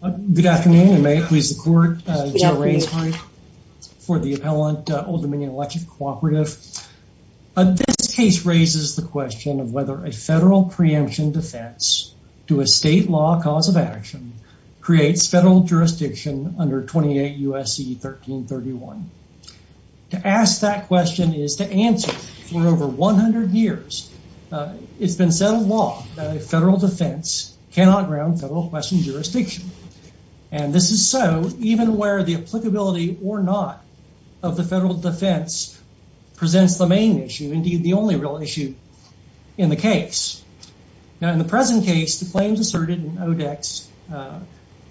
Good afternoon, and may it please the court, Joe Rainsbury for the appellant Old Dominion Electric Cooperative. This case raises the question of whether a federal preemption defense to a state law cause of action creates federal jurisdiction under 28 U.S.C. 1331. To ask that question is to answer, for over 100 years, it's been said of law that a federal defense cannot ground federal question jurisdiction. And this is so even where the applicability or not of the federal defense presents the main issue, indeed the only real issue in the case. Now, in the present case, the claims asserted in ODEC's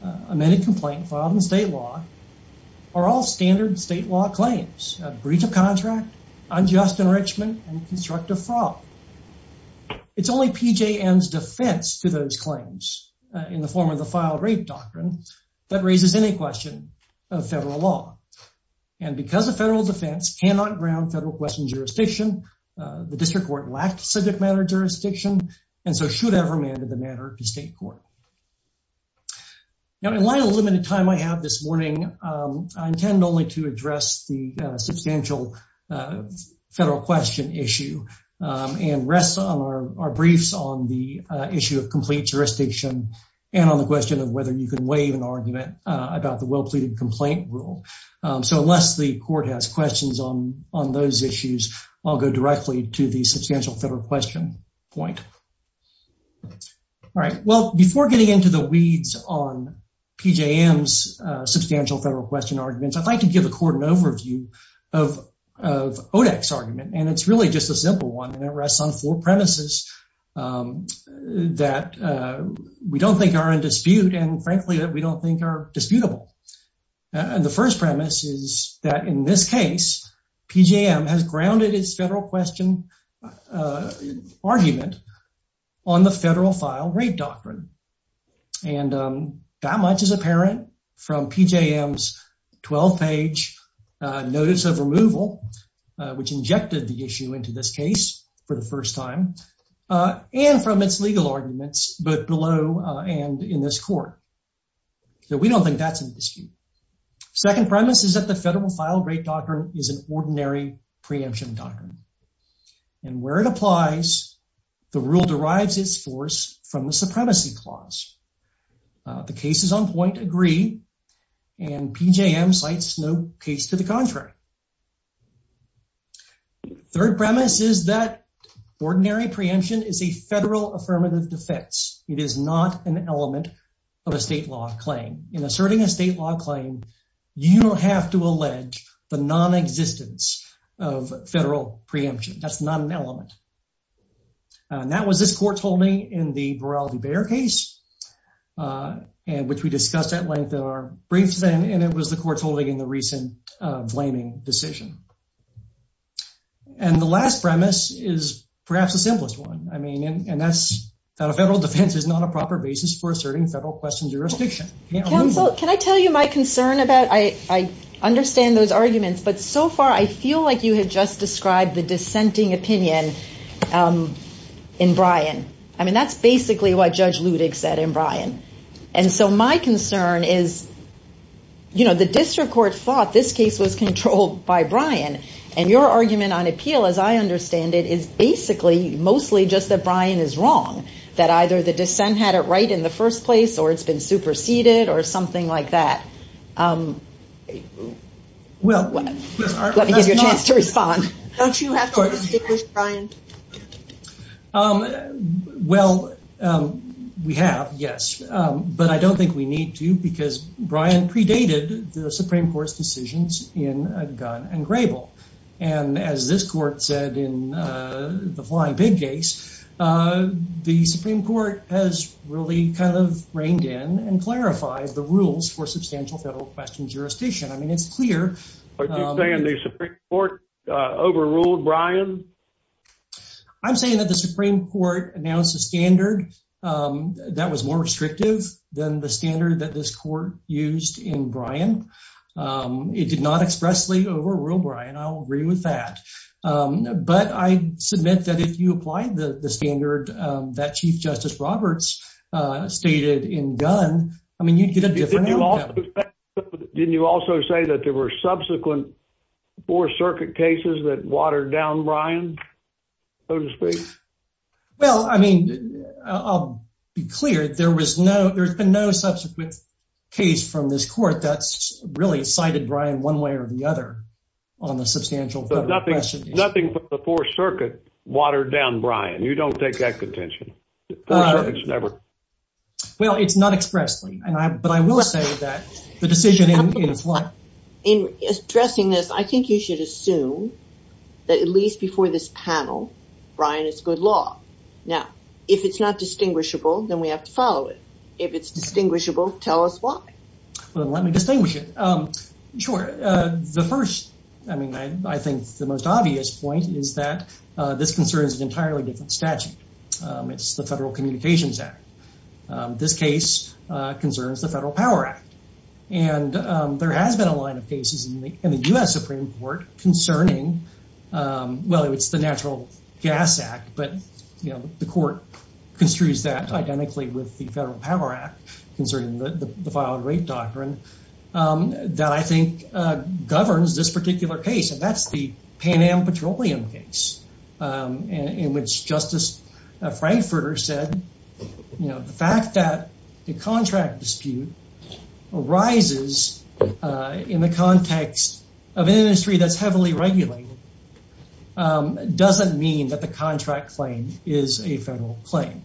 amended complaint filed in state law are all standard state law claims, breach of contract, unjust enrichment, and constructive fraud. It's only PJM's defense to those claims in the form of the filed rape doctrine that raises any question of federal law. And because a federal defense cannot ground federal question jurisdiction, the district court lacked subject matter jurisdiction, and so should have remanded the matter to state court. Now, in light of the limited time I have this morning, I intend only to address the substantial federal question issue. And rest on our briefs on the issue of complete jurisdiction and on the question of whether you can waive an argument about the well-pleaded complaint rule. So unless the court has questions on those issues, I'll go directly to the substantial federal question point. All right. Well, before getting into the weeds on PJM's substantial federal question arguments, I'd like to give the court an overview of ODEC's argument. And it's really just a simple one, and it rests on four premises that we don't think are in dispute and, frankly, that we don't think are disputable. And the first premise is that in this case, PJM has grounded its federal question argument on the federal file rape doctrine. And that much is apparent from PJM's 12-page notice of removal, which injected the issue into this case for the first time, and from its legal arguments both below and in this court. So we don't think that's in dispute. Second premise is that the federal file rape doctrine is an ordinary preemption doctrine. And where it applies, the rule derives its force from the supremacy clause. The case is on point, agree, and PJM cites no case to the contrary. Third premise is that ordinary preemption is a federal affirmative defense. It is not an element of a state law claim. In asserting a state law claim, you don't have to allege the nonexistence of federal preemption. That's not an element. And that was this court's holding in the Broward v. Bayer case, which we discussed at length in our briefs, and it was the court's holding in the recent Vlaming decision. And the last premise is perhaps the simplest one. And that's that a federal defense is not a proper basis for asserting federal question jurisdiction. Counsel, can I tell you my concern about, I understand those arguments, but so far I feel like you had just described the dissenting opinion in Bryan. I mean, that's basically what Judge Ludig said in Bryan. And so my concern is, you know, the district court thought this case was controlled by Bryan. And your argument on appeal, as I understand it, is basically mostly just that Bryan is wrong, that either the dissent had it right in the first place or it's been superseded or something like that. Let me give you a chance to respond. Don't you have to distinguish Bryan? Well, we have, yes. But I don't think we need to, because Bryan predated the Supreme Court's decisions in Gunn and Grable. And as this court said in the Flying Pig case, the Supreme Court has really kind of reined in and clarified the rules for substantial federal question jurisdiction. Are you saying the Supreme Court overruled Bryan? I'm saying that the Supreme Court announced a standard that was more restrictive than the standard that this court used in Bryan. It did not expressly overrule Bryan. I'll agree with that. But I submit that if you apply the standard that Chief Justice Roberts stated in Gunn, I mean, you'd get a different outcome. Didn't you also say that there were subsequent Fourth Circuit cases that watered down Bryan, so to speak? Well, I mean, I'll be clear. There was no – there's been no subsequent case from this court that's really cited Bryan one way or the other on the substantial federal question. Nothing but the Fourth Circuit watered down Bryan. You don't take that contention. The Fourth Circuit's never – Well, it's not expressly. But I will say that the decision in – In addressing this, I think you should assume that at least before this panel, Bryan is good law. Now, if it's not distinguishable, then we have to follow it. If it's distinguishable, tell us why. Well, let me distinguish it. Sure. The first – I mean, I think the most obvious point is that this concerns an entirely different statute. It's the Federal Communications Act. This case concerns the Federal Power Act. And there has been a line of cases in the U.S. Supreme Court concerning – well, it's the Natural Gas Act. But, you know, the court construes that identically with the Federal Power Act concerning the filed rape doctrine that I think governs this particular case. And that's the Pan Am petroleum case in which Justice Frankfurter said, you know, the fact that the contract dispute arises in the context of an industry that's heavily regulated doesn't mean that the contract claim is a federal claim.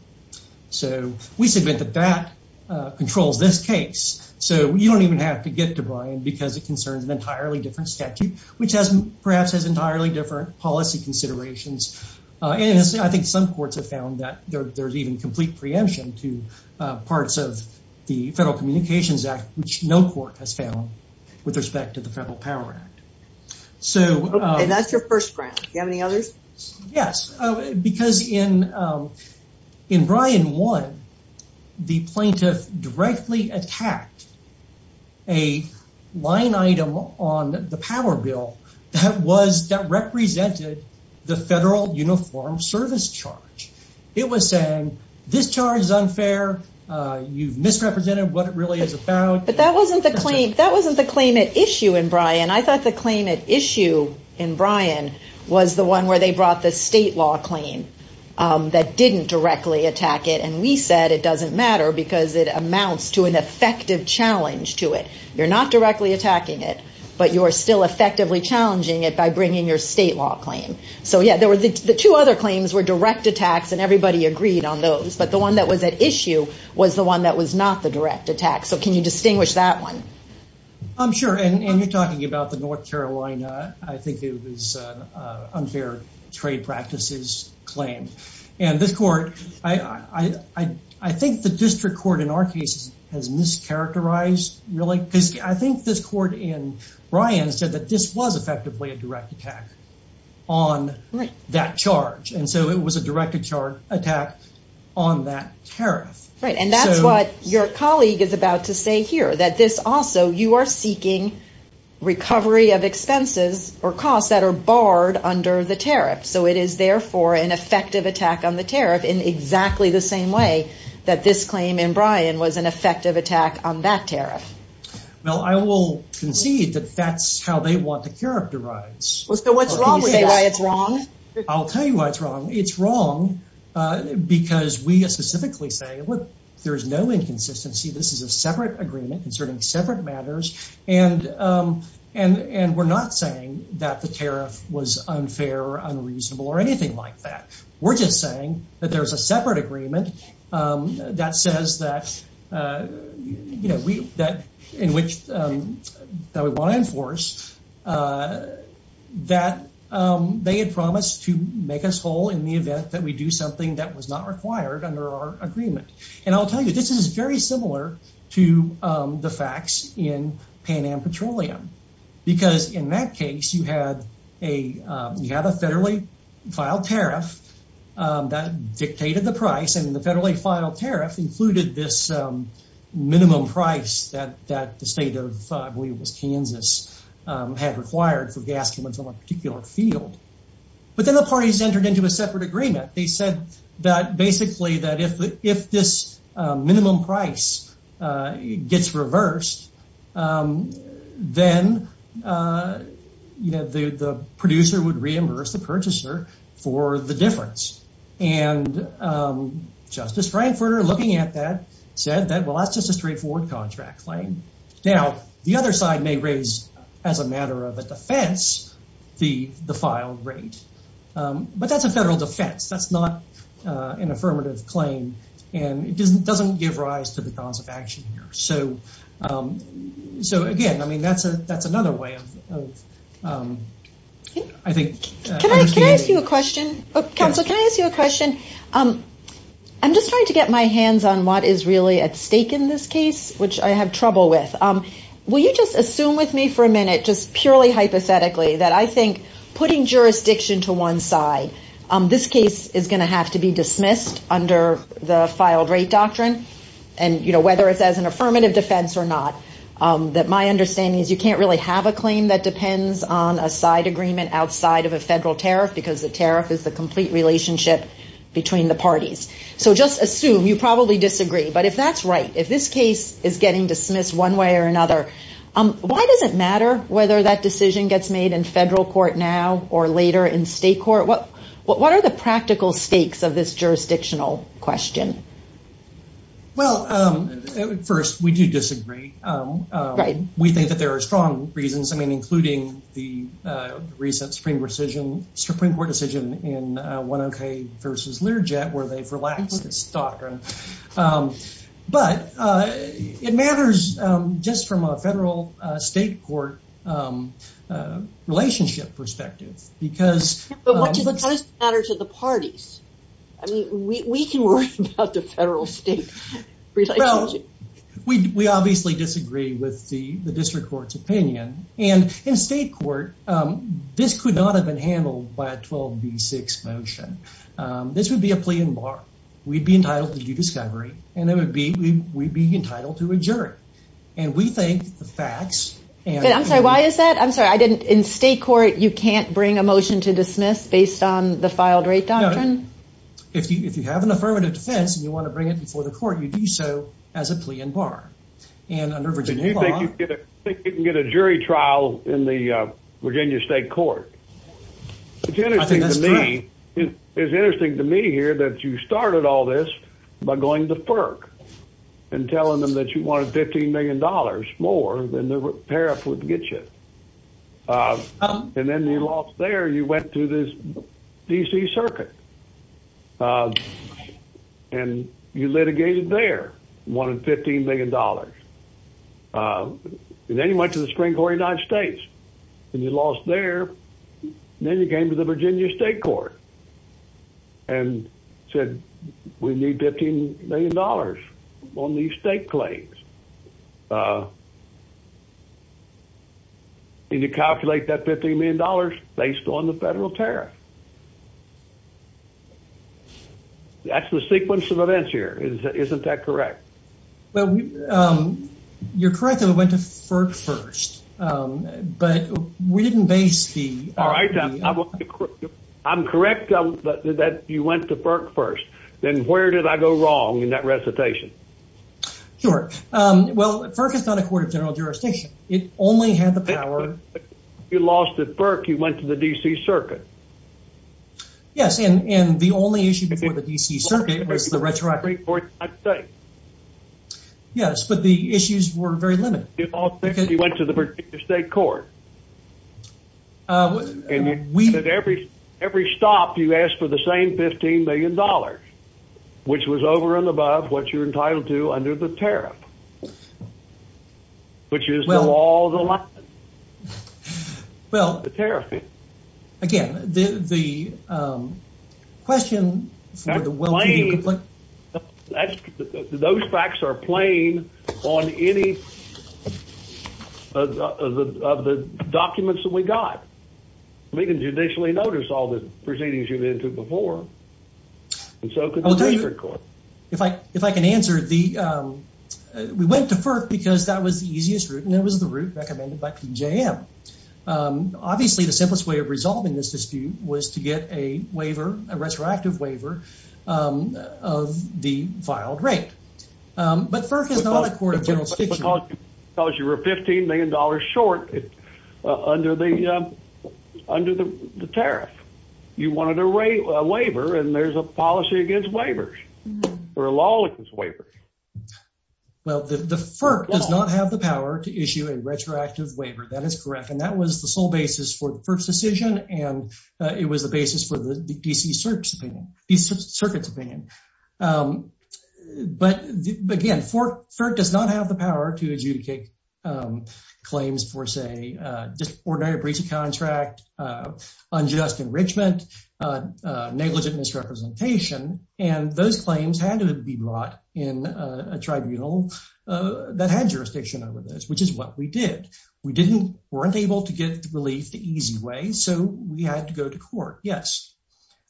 So we submit that that controls this case. So you don't even have to get to Bryan because it concerns an entirely different statute, which has – perhaps has entirely different policy considerations. And I think some courts have found that there's even complete preemption to parts of the Federal Communications Act, which no court has found with respect to the Federal Power Act. And that's your first ground. Do you have any others? Yes, because in Bryan 1, the plaintiff directly attacked a line item on the power bill that represented the federal uniform service charge. It was saying, this charge is unfair. You've misrepresented what it really is about. But that wasn't the claim – that wasn't the claim at issue in Bryan. I thought the claim at issue in Bryan was the one where they brought the state law claim that didn't directly attack it. And we said it doesn't matter because it amounts to an effective challenge to it. You're not directly attacking it, but you're still effectively challenging it by bringing your state law claim. So yeah, there were – the two other claims were direct attacks and everybody agreed on those. But the one that was at issue was the one that was not the direct attack. So can you distinguish that one? I'm sure. And you're talking about the North Carolina – I think it was unfair trade practices claim. And this court – I think the district court in our case has mischaracterized really – because I think this court in Bryan said that this was effectively a direct attack on that charge. And so it was a direct attack on that tariff. Right, and that's what your colleague is about to say here, that this also – you are seeking recovery of expenses or costs that are barred under the tariff. So it is therefore an effective attack on the tariff in exactly the same way that this claim in Bryan was an effective attack on that tariff. Well, I will concede that that's how they want to characterize. Well, so what's wrong with that? Can you say why it's wrong? I'll tell you why it's wrong. It's wrong because we specifically say, look, there's no inconsistency. This is a separate agreement concerning separate matters. And we're not saying that the tariff was unfair or unreasonable or anything like that. We're just saying that there's a separate agreement that says that in which – that we want to enforce that they had promised to make us whole in the event that we do something that was not required under our agreement. And I'll tell you, this is very similar to the facts in Pan Am Petroleum. Because in that case, you had a federally filed tariff that dictated the price. And the federally filed tariff included this minimum price that the state of, I believe it was Kansas, had required for gas payments on a particular field. But then the parties entered into a separate agreement. They said that basically that if this minimum price gets reversed, then the producer would reimburse the purchaser for the difference. And Justice Frankfurter, looking at that, said that, well, that's just a straightforward contract claim. Now, the other side may raise as a matter of a defense the filed rate. But that's a federal defense. That's not an affirmative claim. And it doesn't give rise to the cause of action here. So, again, I mean, that's another way of, I think – Can I ask you a question? Counsel, can I ask you a question? I'm just trying to get my hands on what is really at stake in this case, which I have trouble with. Will you just assume with me for a minute, just purely hypothetically, that I think putting jurisdiction to one side, this case is going to have to be dismissed under the filed rate doctrine, whether it's as an affirmative defense or not. My understanding is you can't really have a claim that depends on a side agreement outside of a federal tariff, because the tariff is the complete relationship between the parties. So just assume. You probably disagree. But if that's right, if this case is getting dismissed one way or another, why does it matter whether that decision gets made in federal court now or later in state court? What are the practical stakes of this jurisdictional question? Well, first, we do disagree. We think that there are strong reasons, I mean, but it matters just from a federal state court relationship perspective, because- But what does it matter to the parties? I mean, we can worry about the federal state relationship. Well, we obviously disagree with the district court's opinion. And in state court, this could not have been handled by a 12B6 motion. This would be a plea in bar. We'd be entitled to discovery, and we'd be entitled to a jury. And we think the facts- I'm sorry, why is that? I'm sorry. In state court, you can't bring a motion to dismiss based on the filed rate doctrine? If you have an affirmative defense and you want to bring it before the court, you do so as a plea in bar. And under Virginia law- I think you can get a jury trial in the Virginia state court. I think that's true. It's interesting to me here that you started all this by going to FERC and telling them that you wanted $15 million more than the parap would get you. And then you lost there. You went to this D.C. Circuit, and you litigated there. You wanted $15 million. And then you went to the Supreme Court of the United States, and you lost there. And then you came to the Virginia state court and said, we need $15 million on these state claims. And you calculate that $15 million based on the federal tariff. That's the sequence of events here. Isn't that correct? Well, you're correct that we went to FERC first, but we didn't base the- All right, I'm correct that you went to FERC first. Then where did I go wrong in that recitation? Sure. Well, FERC is not a court of general jurisdiction. It only had the power- You lost at FERC. You went to the D.C. Circuit. Yes, and the only issue before the D.C. Circuit was the retroactive- Yes, but the issues were very limited. You went to the Virginia state court, and at every stop, you asked for the same $15 million, which was over and above what you're entitled to under the tariff, which is the law of the land. Well- The tariff. Again, the question for the- Those facts are plain on any of the documents that we got. We can judicially notice all the proceedings you've been to before, and so can the district court. If I can answer, we went to FERC because that was the easiest route, and it was the route recommended by PJM. Obviously, the simplest way of resolving this dispute was to get a waiver, a retroactive waiver of the filed rate, but FERC is not a court of general jurisdiction. Because you were $15 million short under the tariff. You wanted a waiver, and there's a policy against waivers or a law against waivers. Well, the FERC does not have the power to issue a retroactive waiver. That is correct, and that was the sole basis for FERC's decision, and it was the basis for the D.C. Circuit's opinion. But again, FERC does not have the power to adjudicate claims for, say, disordered breach of contract, unjust enrichment, negligent misrepresentation, and those claims had to be brought in a tribunal that had jurisdiction over this, which is what we did. We weren't able to get relief the easy way, so we had to go to court. Yes,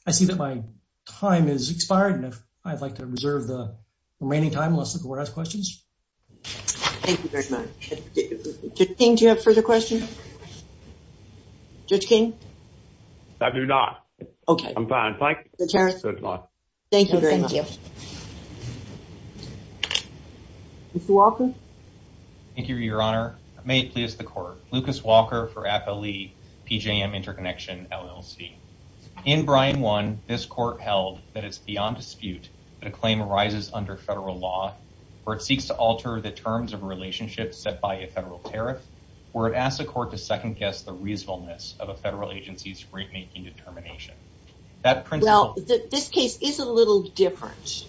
I see that my time has expired, and I'd like to reserve the remaining time unless the court has questions. Thank you very much. Judge King, do you have further questions? Judge King? I do not. Okay. I'm fine. Thank you so much. Thank you very much. Thank you. Mr. Walker? Thank you, Your Honor. May it please the court. Lucas Walker for APLE PJM Interconnection LLC. In Brian 1, this court held that it's beyond dispute that a claim arises under federal law where it seeks to alter the terms of a relationship set by a federal tariff, where it asks the court to second-guess the reasonableness of a federal agency's rate-making determination. Well, this case is a little different,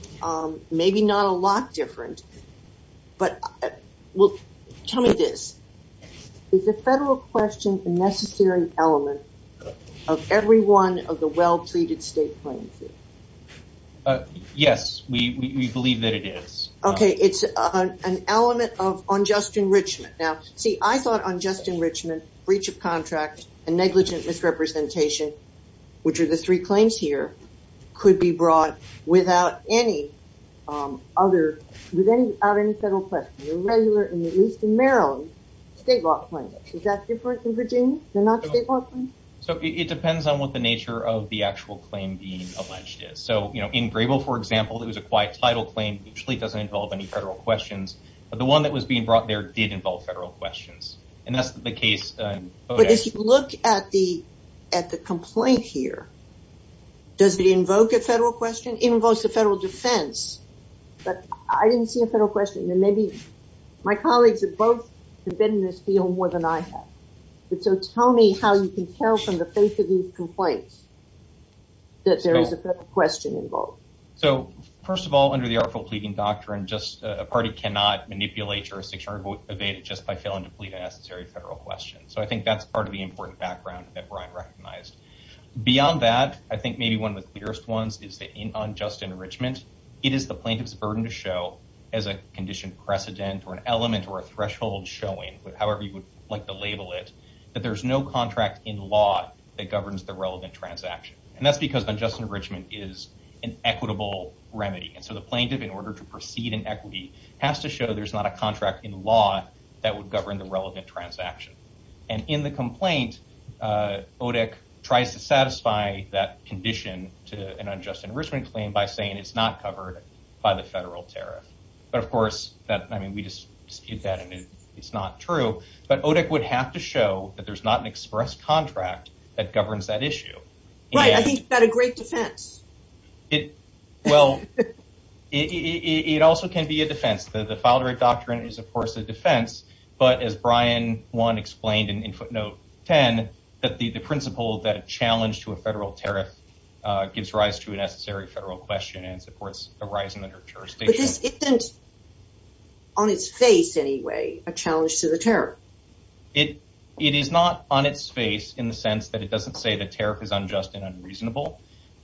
maybe not a lot different, but tell me this. Is the federal question a necessary element of every one of the well-pleaded state claims? Yes, we believe that it is. Okay. It's an element of unjust enrichment. Now, see, I thought unjust enrichment, breach of contract, and negligent misrepresentation, which are the three claims here, could be brought without any other, without any federal question, a regular, at least in Maryland, state law claim. Is that different in Virginia? They're not state law claims? So it depends on what the nature of the actual claim being alleged is. So, you know, in Grable, for example, it was a quiet title claim. It usually doesn't involve any federal questions. But the one that was being brought there did involve federal questions. And that's the case. But if you look at the complaint here, does it invoke a federal question? It invokes a federal defense. But I didn't see a federal question. And maybe my colleagues have both been in this field more than I have. So tell me how you can tell from the face of these complaints that there is a federal question involved. So, first of all, under the Artful Pleading Doctrine, a party cannot manipulate jurisdiction or evade it just by failing to plead a necessary federal question. So I think that's part of the important background that Brian recognized. Beyond that, I think maybe one of the clearest ones is that in unjust enrichment, it is the plaintiff's burden to show as a condition precedent or an element or a threshold showing, however you would like to label it, that there's no contract in law that governs the relevant transaction. And that's because unjust enrichment is an equitable remedy. And so the plaintiff, in order to proceed in equity, has to show there's not a contract in law that would govern the relevant transaction. And in the complaint, ODIC tries to satisfy that condition to an unjust enrichment claim by saying it's not covered by the federal tariff. But, of course, we dispute that and it's not true. But ODIC would have to show that there's not an express contract that governs that issue. Right. I think that's a great defense. Well, it also can be a defense. The Filed Right Doctrine is, of course, a defense. But as Brian 1 explained in footnote 10, that the principle that a challenge to a federal tariff gives rise to a necessary federal question and supports a rise in the jurisdiction. But this isn't, on its face anyway, a challenge to the tariff. It is not on its face in the sense that it doesn't say the tariff is unjust and unreasonable.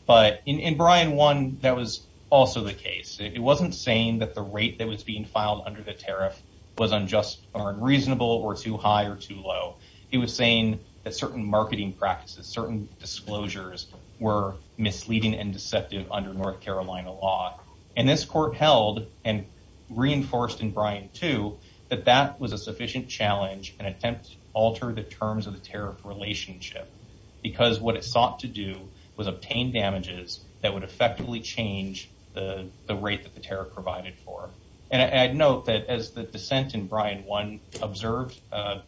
But in Brian 1, that was also the case. It wasn't saying that the rate that was being filed under the tariff was unjust or unreasonable or too high or too low. It was saying that certain marketing practices, certain disclosures were misleading and deceptive under North Carolina law. And this court held and reinforced in Brian 2 that that was a sufficient challenge and attempt to alter the terms of the tariff relationship. Because what it sought to do was obtain damages that would effectively change the rate that the tariff provided for. And I'd note that as the dissent in Brian 1 observed,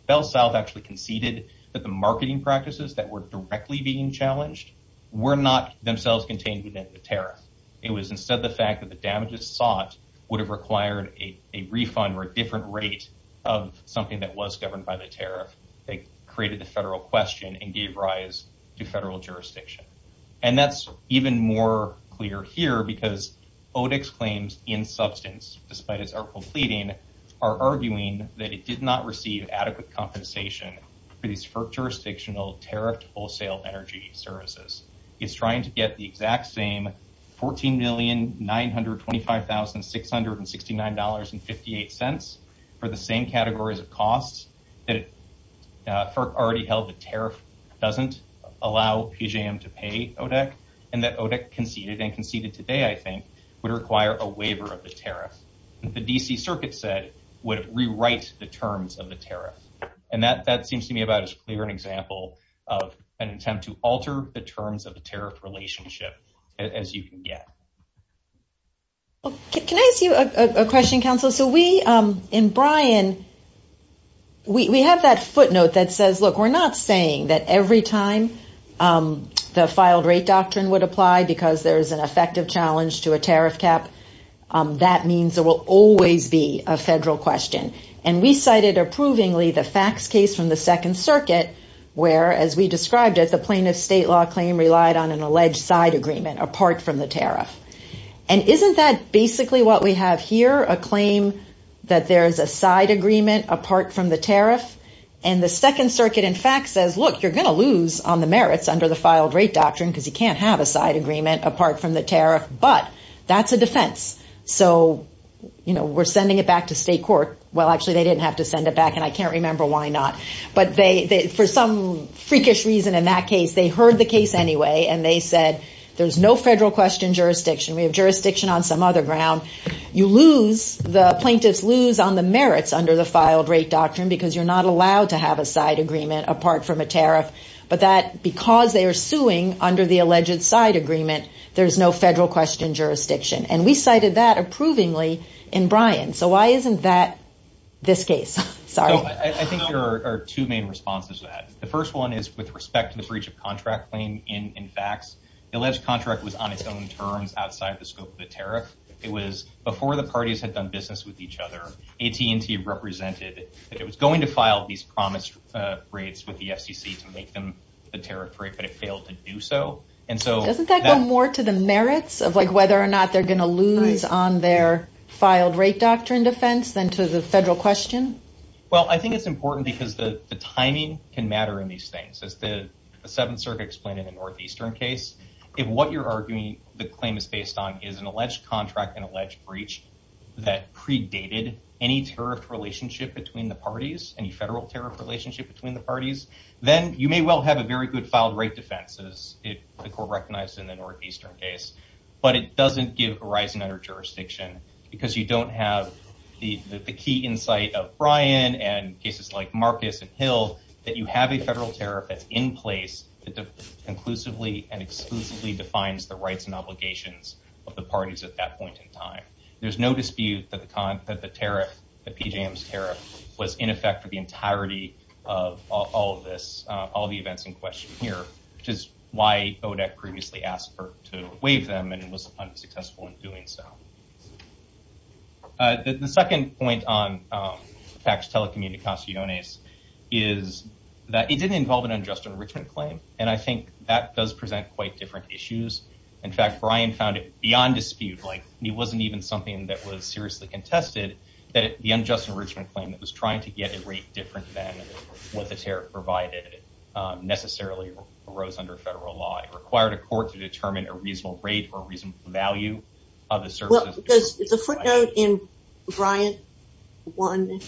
Bell South actually conceded that the marketing practices that were directly being challenged were not themselves contained within the tariff. It was instead the fact that the damages sought would have required a refund or a different rate of something that was governed by the tariff. They created the federal question and gave rise to federal jurisdiction. And that's even more clear here because ODIC's claims in substance, despite its article pleading, are arguing that it did not receive adequate compensation for these jurisdictional tariffed wholesale energy services. It's trying to get the exact same $14,925,669.58 for the same categories of costs that FERC already held the tariff doesn't allow PJM to pay ODIC. And that ODIC conceded and conceded today, I think, would require a waiver of the tariff. The D.C. Circuit said would rewrite the terms of the tariff. And that seems to me about as clear an example of an attempt to alter the terms of the tariff relationship as you can get. Can I ask you a question, counsel? So we in Brian, we have that footnote that says, look, we're not saying that every time the filed rate doctrine would apply because there is an effective challenge to a tariff cap. That means there will always be a federal question. And we cited approvingly the facts case from the Second Circuit, where, as we described it, the plaintiff's state law claim relied on an alleged side agreement apart from the tariff. And isn't that basically what we have here, a claim that there is a side agreement apart from the tariff? And the Second Circuit, in fact, says, look, you're going to lose on the merits under the filed rate doctrine because you can't have a side agreement apart from the tariff. But that's a defense. So we're sending it back to state court. Well, actually, they didn't have to send it back, and I can't remember why not. But for some freakish reason in that case, they heard the case anyway, and they said, there's no federal question jurisdiction. We have jurisdiction on some other ground. You lose, the plaintiffs lose on the merits under the filed rate doctrine because you're not allowed to have a side agreement apart from a tariff. But that because they are suing under the alleged side agreement, there's no federal question jurisdiction. And we cited that approvingly in Brian. So why isn't that this case? Sorry. I think there are two main responses to that. The first one is with respect to the breach of contract claim. In fact, the alleged contract was on its own terms outside the scope of the tariff. It was before the parties had done business with each other. AT&T represented that it was going to file these promised rates with the FCC to make them the tariff rate, but it failed to do so. Doesn't that go more to the merits of whether or not they're going to lose on their filed rate doctrine defense than to the federal question? Well, I think it's important because the timing can matter in these things. As the Seventh Circuit explained in the Northeastern case, if what you're arguing the claim is based on is an alleged contract, an alleged breach that predated any tariff relationship between the parties, any federal tariff relationship between the parties, then you may well have a very good filed rate defense, as the court recognized in the Northeastern case. But it doesn't give horizon under jurisdiction because you don't have the key insight of Brian and cases like Marcus and Hill, that you have a federal tariff that's in place that conclusively and exclusively defines the rights and obligations of the parties at that point in time. There's no dispute that the tariff, that PJM's tariff was in effect for the entirety of all of this, all the events in question here, which is why ODEC previously asked for to waive them and it was unsuccessful in doing so. The second point on tax telecommunications is that it didn't involve an unjust enrichment claim, and I think that does present quite different issues. In fact, Brian found it beyond dispute, like he wasn't even something that was seriously contested, that the unjust enrichment claim that was trying to get a rate different than what the tariff provided necessarily arose under federal law. It required a court to determine a reasonable rate or reasonable value of the services. Does the footnote in Brian 1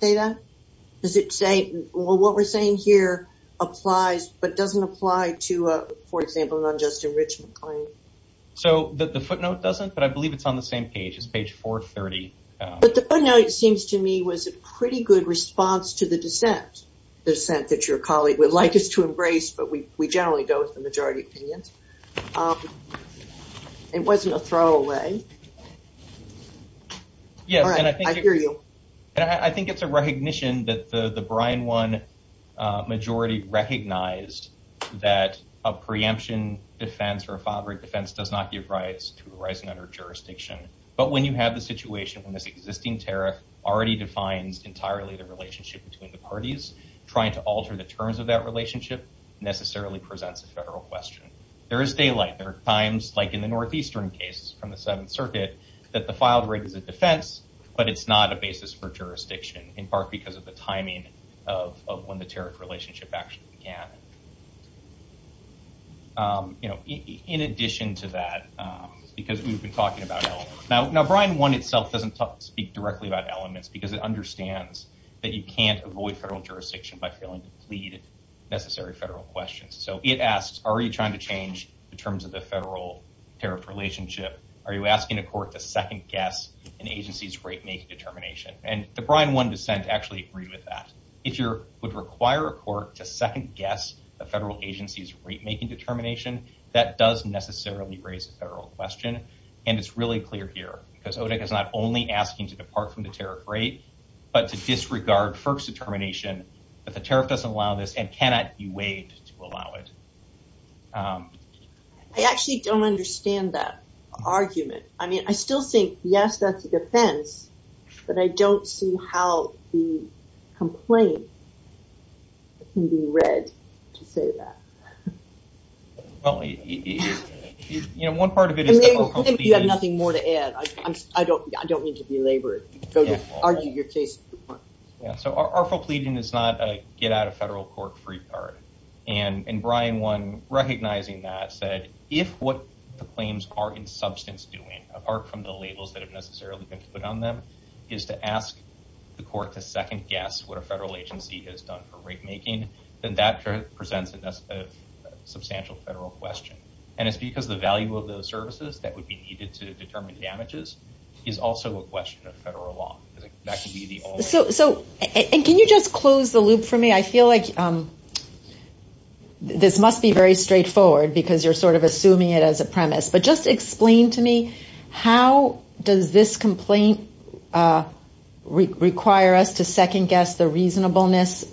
say that? Does it say what we're saying here applies but doesn't apply to, for example, an unjust enrichment claim? So the footnote doesn't, but I believe it's on the same page. It's page 430. But the footnote seems to me was a pretty good response to the dissent, the dissent that your colleague would like us to embrace, but we generally go with the majority opinion. It wasn't a throwaway. I hear you. I think it's a recognition that the Brian 1 majority recognized that a preemption defense or a fathering defense does not give rights to a rising under jurisdiction. But when you have the situation when this existing tariff already defines entirely the relationship between the parties, trying to alter the terms of that relationship necessarily presents a federal question. There is daylight. There are times, like in the Northeastern case from the Seventh Circuit, that the filed rate is a defense, but it's not a basis for jurisdiction, in part because of the timing of when the tariff relationship actually began. In addition to that, because we've been talking about elements. Now, Brian 1 itself doesn't speak directly about elements, because it understands that you can't avoid federal jurisdiction by failing to plead necessary federal questions. So it asks, are you trying to change the terms of the federal tariff relationship? Are you asking a court to second guess an agency's rate-making determination? And the Brian 1 dissent actually agreed with that. If you would require a court to second guess a federal agency's rate-making determination, that does necessarily raise a federal question. And it's really clear here, because ODEC is not only asking to depart from the tariff rate, but to disregard FERC's determination that the tariff doesn't allow this and cannot be waived to allow it. I actually don't understand that argument. I mean, I still think, yes, that's a defense, but I don't see how the complaint can be read to say that. Well, you know, one part of it is that you have nothing more to add. I don't I don't need to be labored to argue your case. Yeah. So our full pleading is not a get out of federal court free card. And Brian 1, recognizing that, said if what the claims are in substance doing, apart from the labels that have necessarily been put on them, is to ask the court to second guess what a federal agency has done for rate-making, then that presents a substantial federal question. And it's because the value of those services that would be needed to determine damages is also a question of federal law. So. And can you just close the loop for me? I feel like this must be very straightforward because you're sort of assuming it as a premise. But just explain to me, how does this complaint require us to second guess the reasonableness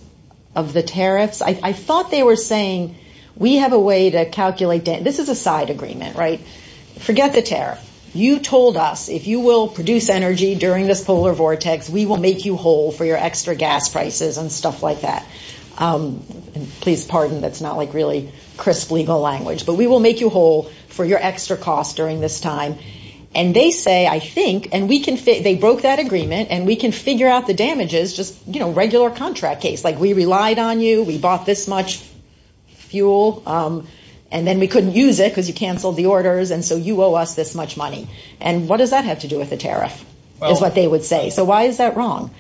of the tariffs? I thought they were saying we have a way to calculate. This is a side agreement, right? Forget the tariff. You told us if you will produce energy during this polar vortex, we will make you whole for your extra gas prices and stuff like that. And please pardon. That's not like really crisp legal language. But we will make you whole for your extra costs during this time. And they say, I think and we can say they broke that agreement and we can figure out the damages. Just, you know, regular contract case like we relied on you. We bought this much fuel and then we couldn't use it because you canceled the orders. And so you owe us this much money. And what does that have to do with the tariff? That's what they would say. So why is that wrong?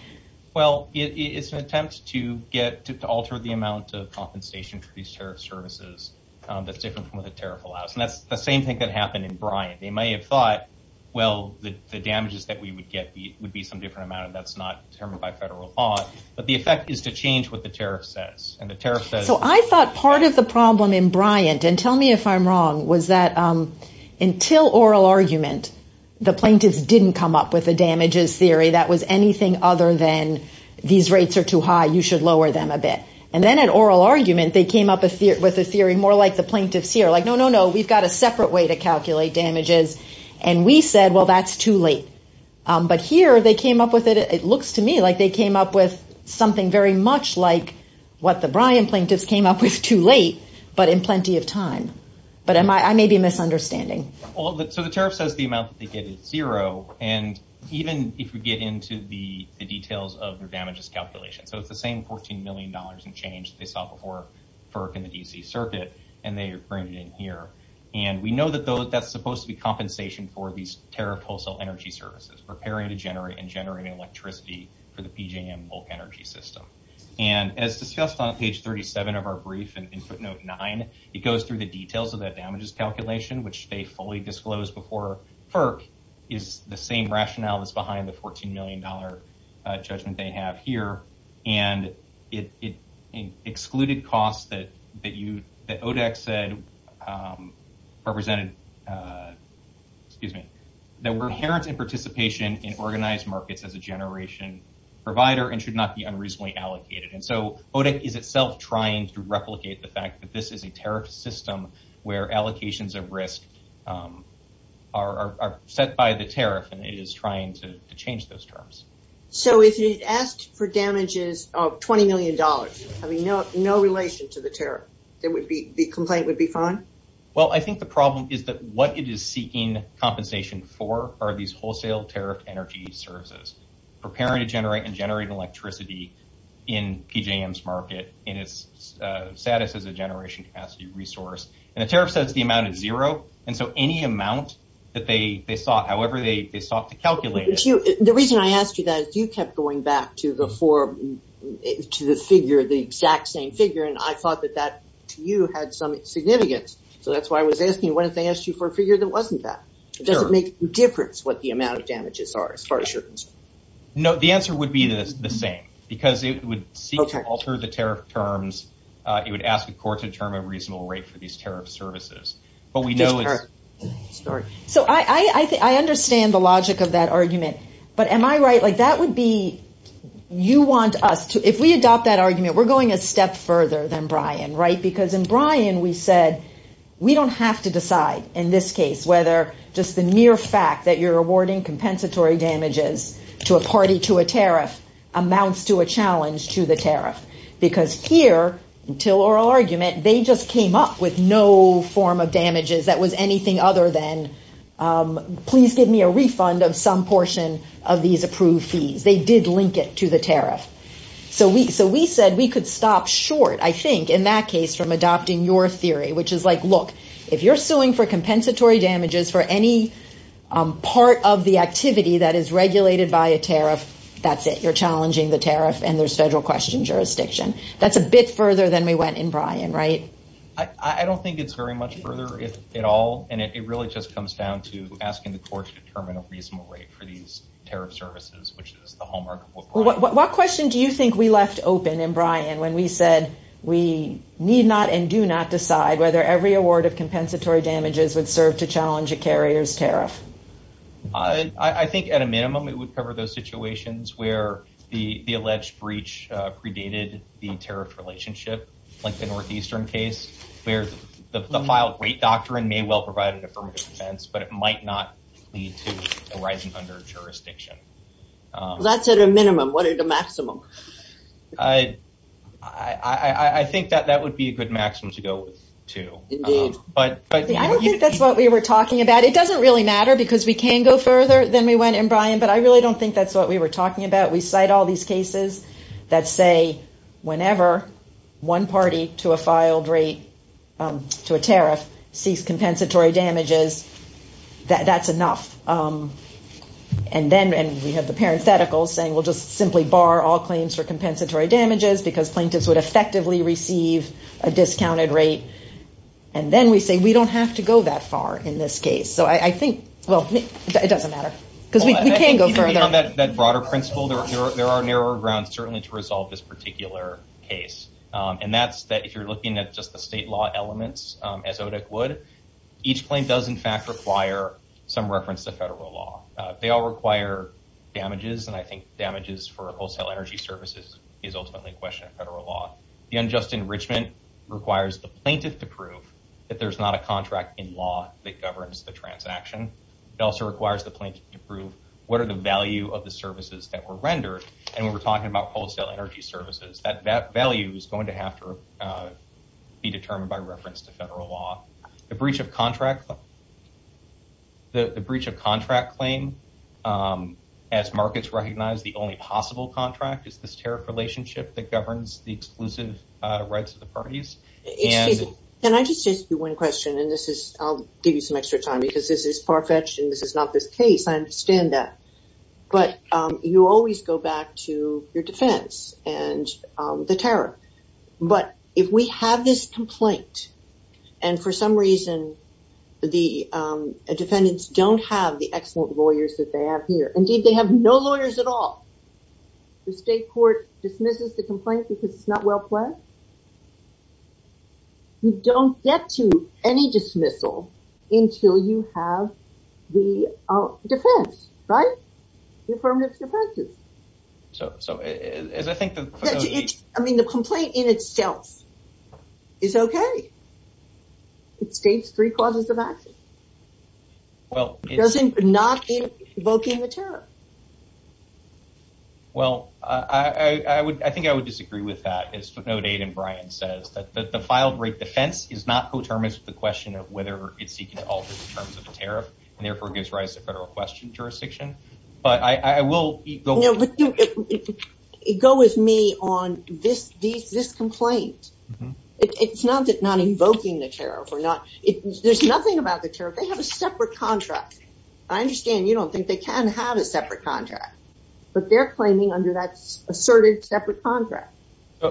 Well, it's an attempt to get to alter the amount of compensation for these tariff services. That's different from what the tariff allows. And that's the same thing that happened in Bryant. They may have thought, well, the damages that we would get would be some different amount. And that's not determined by federal law. But the effect is to change what the tariff says. So I thought part of the problem in Bryant and tell me if I'm wrong, was that until oral argument, the plaintiffs didn't come up with a damages theory that was anything other than these rates are too high. You should lower them a bit. And then an oral argument, they came up with a theory more like the plaintiffs here. Like, no, no, no. We've got a separate way to calculate damages. And we said, well, that's too late. But here they came up with it. It looks to me like they came up with something very much like what the Bryant plaintiffs came up with too late, but in plenty of time. But I may be misunderstanding. So the tariff says the amount they get is zero. And even if we get into the details of their damages calculation. So it's the same 14 million dollars in change they saw before FERC and the D.C. Circuit. And they bring it in here. And we know that that's supposed to be compensation for these tariff wholesale energy services, preparing to generate and generating electricity for the PJM bulk energy system. And as discussed on page 37 of our brief and in footnote nine, it goes through the details of that damages calculation, which they fully disclosed before. FERC is the same rationale that's behind the 14 million dollar judgment they have here. And it excluded costs that that you said represented, excuse me, that were inherent in participation in organized markets as a generation provider and should not be unreasonably allocated. And so it is itself trying to replicate the fact that this is a tariff system where allocations of risk are set by the tariff. And it is trying to change those terms. So if you asked for damages of 20 million dollars, I mean, no, no relation to the tariff, there would be the complaint would be fine. Well, I think the problem is that what it is seeking compensation for are these wholesale tariff energy services, preparing to generate and generate electricity in PJM's market in its status as a generation capacity resource. And the tariff says the amount is zero. And so any amount that they saw, however, they sought to calculate. The reason I asked you that you kept going back to the four to the figure, the exact same figure. And I thought that that you had some significance. So that's why I was asking what if they asked you for a figure that wasn't that? Does it make a difference what the amount of damages are as far as you're concerned? No, the answer would be the same because it would seem to alter the tariff terms. It would ask a court to determine a reasonable rate for these tariff services. But we know. So I think I understand the logic of that argument. But am I right? Like that would be you want us to if we adopt that argument, we're going a step further than Brian. Right. Because in Brian, we said we don't have to decide in this case whether just the mere fact that you're awarding they just came up with no form of damages that was anything other than please give me a refund of some portion of these approved fees. They did link it to the tariff. So we so we said we could stop short, I think, in that case from adopting your theory, which is like, look, if you're suing for compensatory damages for any part of the activity that is regulated by a tariff, that's it. You're challenging the tariff and there's federal question jurisdiction. That's a bit further than we went in Brian. Right. I don't think it's very much further at all. And it really just comes down to asking the court to determine a reasonable rate for these tariff services, which is the hallmark. What question do you think we left open in Brian when we said we need not and do not decide whether every award of compensatory damages would serve to challenge a carrier's tariff? I think at a minimum, it would cover those situations where the alleged breach predated the tariff relationship, like the Northeastern case, where the filed rate doctrine may well provide an affirmative defense, but it might not lead to arising under jurisdiction. That's at a minimum. What are the maximum? I think that that would be a good maximum to go with, too. I don't think that's what we were talking about. It doesn't really matter because we can go further than we went in Brian, but I really don't think that's what we were talking about. We cite all these cases that say whenever one party to a filed rate to a tariff sees compensatory damages, that's enough. And then we have the parenthetical saying, well, just simply bar all claims for compensatory damages because plaintiffs would effectively receive a discounted rate. And then we say we don't have to go that far in this case. So I think, well, it doesn't matter because we can go further. Based on that broader principle, there are narrower grounds certainly to resolve this particular case. And that's that if you're looking at just the state law elements, as ODIC would, each claim does in fact require some reference to federal law. They all require damages, and I think damages for wholesale energy services is ultimately a question of federal law. The unjust enrichment requires the plaintiff to prove that there's not a contract in law that governs the transaction. It also requires the plaintiff to prove what are the value of the services that were rendered. And when we're talking about wholesale energy services, that value is going to have to be determined by reference to federal law. The breach of contract claim, as markets recognize, the only possible contract is this tariff relationship that governs the exclusive rights of the parties. Excuse me, can I just ask you one question, and I'll give you some extra time because this is far-fetched and this is not this case, I understand that. But you always go back to your defense and the tariff. But if we have this complaint, and for some reason the defendants don't have the excellent lawyers that they have here, indeed they have no lawyers at all. The state court dismisses the complaint because it's not well-planned? You don't get to any dismissal until you have the defense, right? The affirmative defense is. So, as I think... I mean, the complaint in itself is okay. It states three clauses of action. Well, it's... It's not invoking the tariff. Well, I think I would disagree with that. As footnote 8 in Bryan says, that the filed rate defense is not coterminous with the question of whether it's seeking to alter the terms of the tariff, and therefore gives rise to federal question jurisdiction. But I will... Go with me on this complaint. It's not that not invoking the tariff or not. There's nothing about the tariff. They have a separate contract. I understand. You don't think they can have a separate contract, but they're claiming under that asserted separate contract.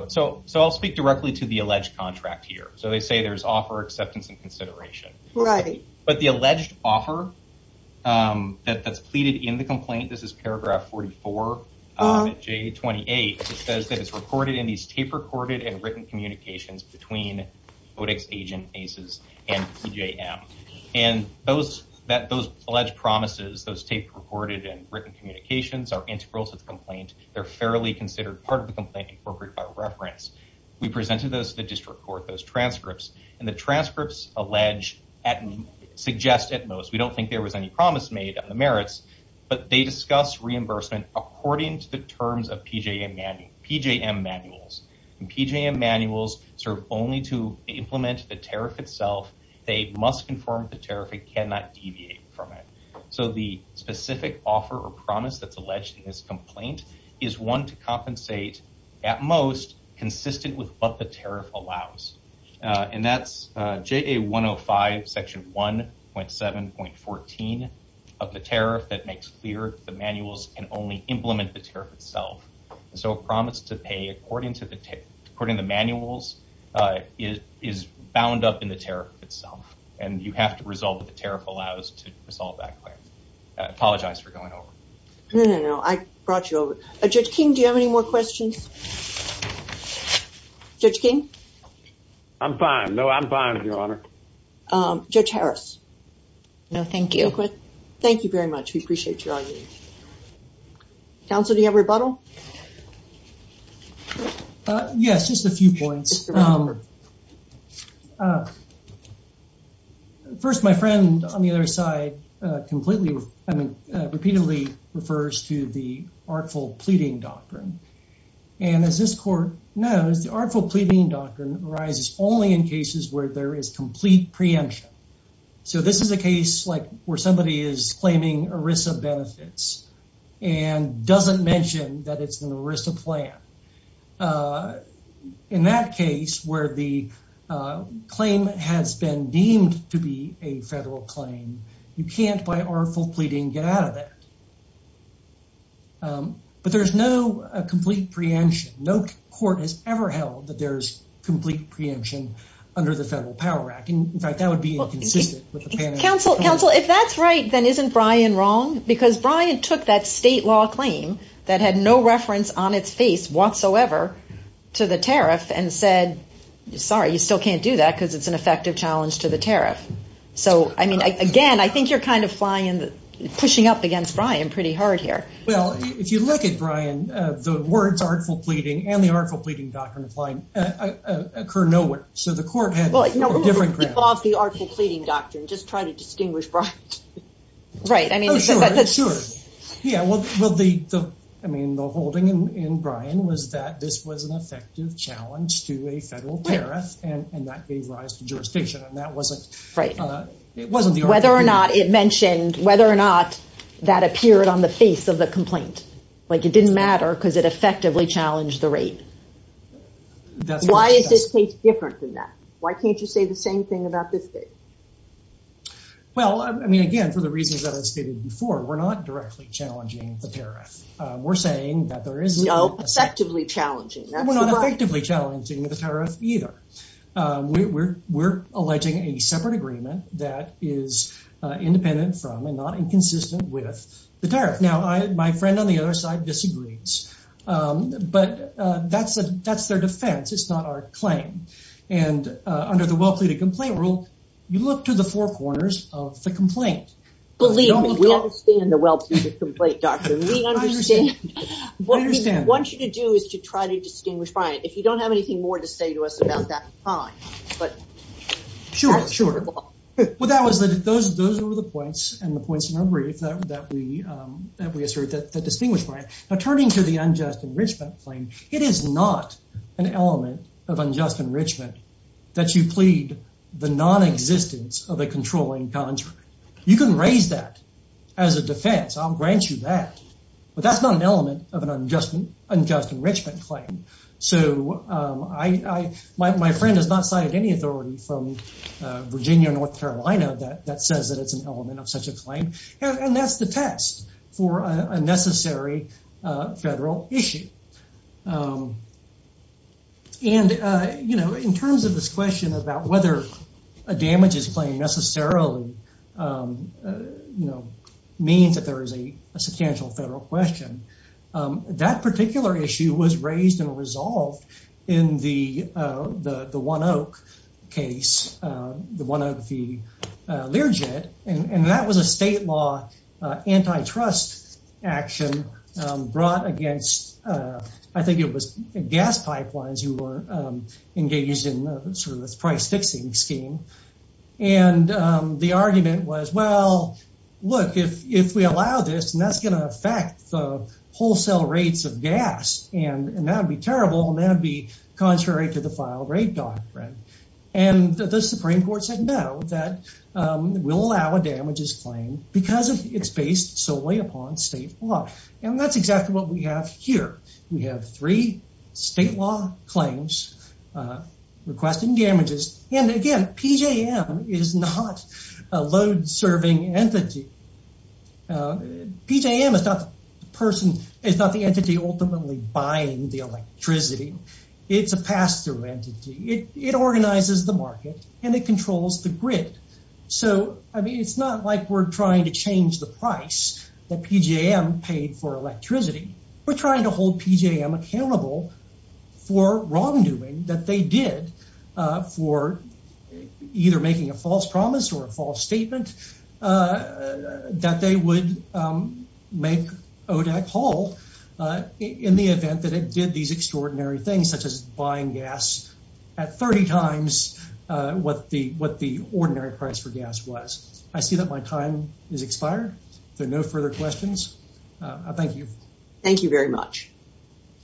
So I'll speak directly to the alleged contract here. So they say there's offer acceptance and consideration. Right. But the alleged offer that's pleaded in the complaint. This is paragraph 44, J28. It says that it's recorded in these tape recorded and written communications between ODIX agent ACES and PJM. And those alleged promises, those tape recorded and written communications are integral to the complaint. They're fairly considered part of the complaint, appropriate by reference. We presented those to the district court, those transcripts. And the transcripts allege, suggest at most, we don't think there was any promise made on the merits. But they discuss reimbursement according to the terms of PJM manuals. And PJM manuals serve only to implement the tariff itself. They must conform to tariff. It cannot deviate from it. So the specific offer or promise that's alleged in this complaint is one to compensate at most consistent with what the tariff allows. And that's JA 105 section 1.7.14 of the tariff that makes clear the manuals can only implement the tariff itself. So a promise to pay according to the manuals is bound up in the tariff itself. And you have to resolve what the tariff allows to resolve that claim. I apologize for going over. No, no, no. I brought you over. Judge King, do you have any more questions? Judge King? I'm fine. No, I'm fine, Your Honor. Judge Harris? No, thank you. Thank you very much. We appreciate your argument. Counsel, do you have rebuttal? Yes, just a few points. First, my friend on the other side completely, I mean, repeatedly refers to the artful pleading doctrine. And as this court knows, the artful pleading doctrine arises only in cases where there is complete preemption. So this is a case like where somebody is claiming ERISA benefits and doesn't mention that it's an ERISA plan. In that case where the claim has been deemed to be a federal claim, you can't, by artful pleading, get out of it. But there's no complete preemption. No court has ever held that there's complete preemption under the Federal Power Act. In fact, that would be inconsistent with the panel. Counsel, if that's right, then isn't Brian wrong? Because Brian took that state law claim that had no reference on its face whatsoever to the tariff and said, sorry, you still can't do that because it's an effective challenge to the tariff. So, I mean, again, I think you're kind of pushing up against Brian pretty hard here. Well, if you look at Brian, the words artful pleading and the artful pleading doctrine apply occur nowhere. So the court had a different ground. Well, no, remove the artful pleading doctrine. Just try to distinguish Brian. Right. I mean, sure. Yeah, well, I mean, the holding in Brian was that this was an effective challenge to a federal tariff, and that gave rise to jurisdiction, and that wasn't the artful pleading. Whether or not it mentioned, whether or not that appeared on the face of the complaint. Like it didn't matter because it effectively challenged the rate. Why is this case different than that? Why can't you say the same thing about this case? Well, I mean, again, for the reasons that I stated before, we're not directly challenging the tariff. We're saying that there is- No, effectively challenging. We're not effectively challenging the tariff either. We're alleging a separate agreement that is independent from and not inconsistent with the tariff. Now, my friend on the other side disagrees, but that's their defense. It's not our claim. And under the well-pleaded complaint rule, you look to the four corners of the complaint. Believe me, we understand the well-pleaded complaint doctrine. We understand. We understand. What we want you to do is to try to distinguish Brian. If you don't have anything more to say to us about that, fine, but- Sure, sure. Well, those were the points and the points in our brief that we assert that distinguish Brian. Now, turning to the unjust enrichment claim, it is not an element of unjust enrichment that you plead the nonexistence of a controlling contract. You can raise that as a defense. I'll grant you that. But that's not an element of an unjust enrichment claim. So my friend has not cited any authority from Virginia or North Carolina that says that it's an element of such a claim. And that's the test for a necessary federal issue. And, you know, in terms of this question about whether a damages claim necessarily, you know, means that there is a substantial federal question, that particular issue was raised and resolved in the One Oak case, the One Oak v. Learjet. And that was a state law antitrust action brought against, I think it was gas pipelines who were engaged in sort of this price-fixing scheme. And the argument was, well, look, if we allow this, that's going to affect the wholesale rates of gas. And that would be terrible. And that would be contrary to the file rate doctrine. And the Supreme Court said no, that we'll allow a damages claim because it's based solely upon state law. And that's exactly what we have here. We have three state law claims requesting damages. And again, PJM is not a load-serving entity. PJM is not the entity ultimately buying the electricity. It's a pass-through entity. It organizes the market and it controls the grid. So, I mean, it's not like we're trying to change the price that PJM paid for electricity. We're trying to hold PJM accountable for wrongdoing that they did for either making a false promise or a false statement that they would make ODAC halt in the event that it did these extraordinary things such as buying gas at 30 times what the ordinary price for gas was. I see that my time has expired. There are no further questions. Thank you. Thank you very much.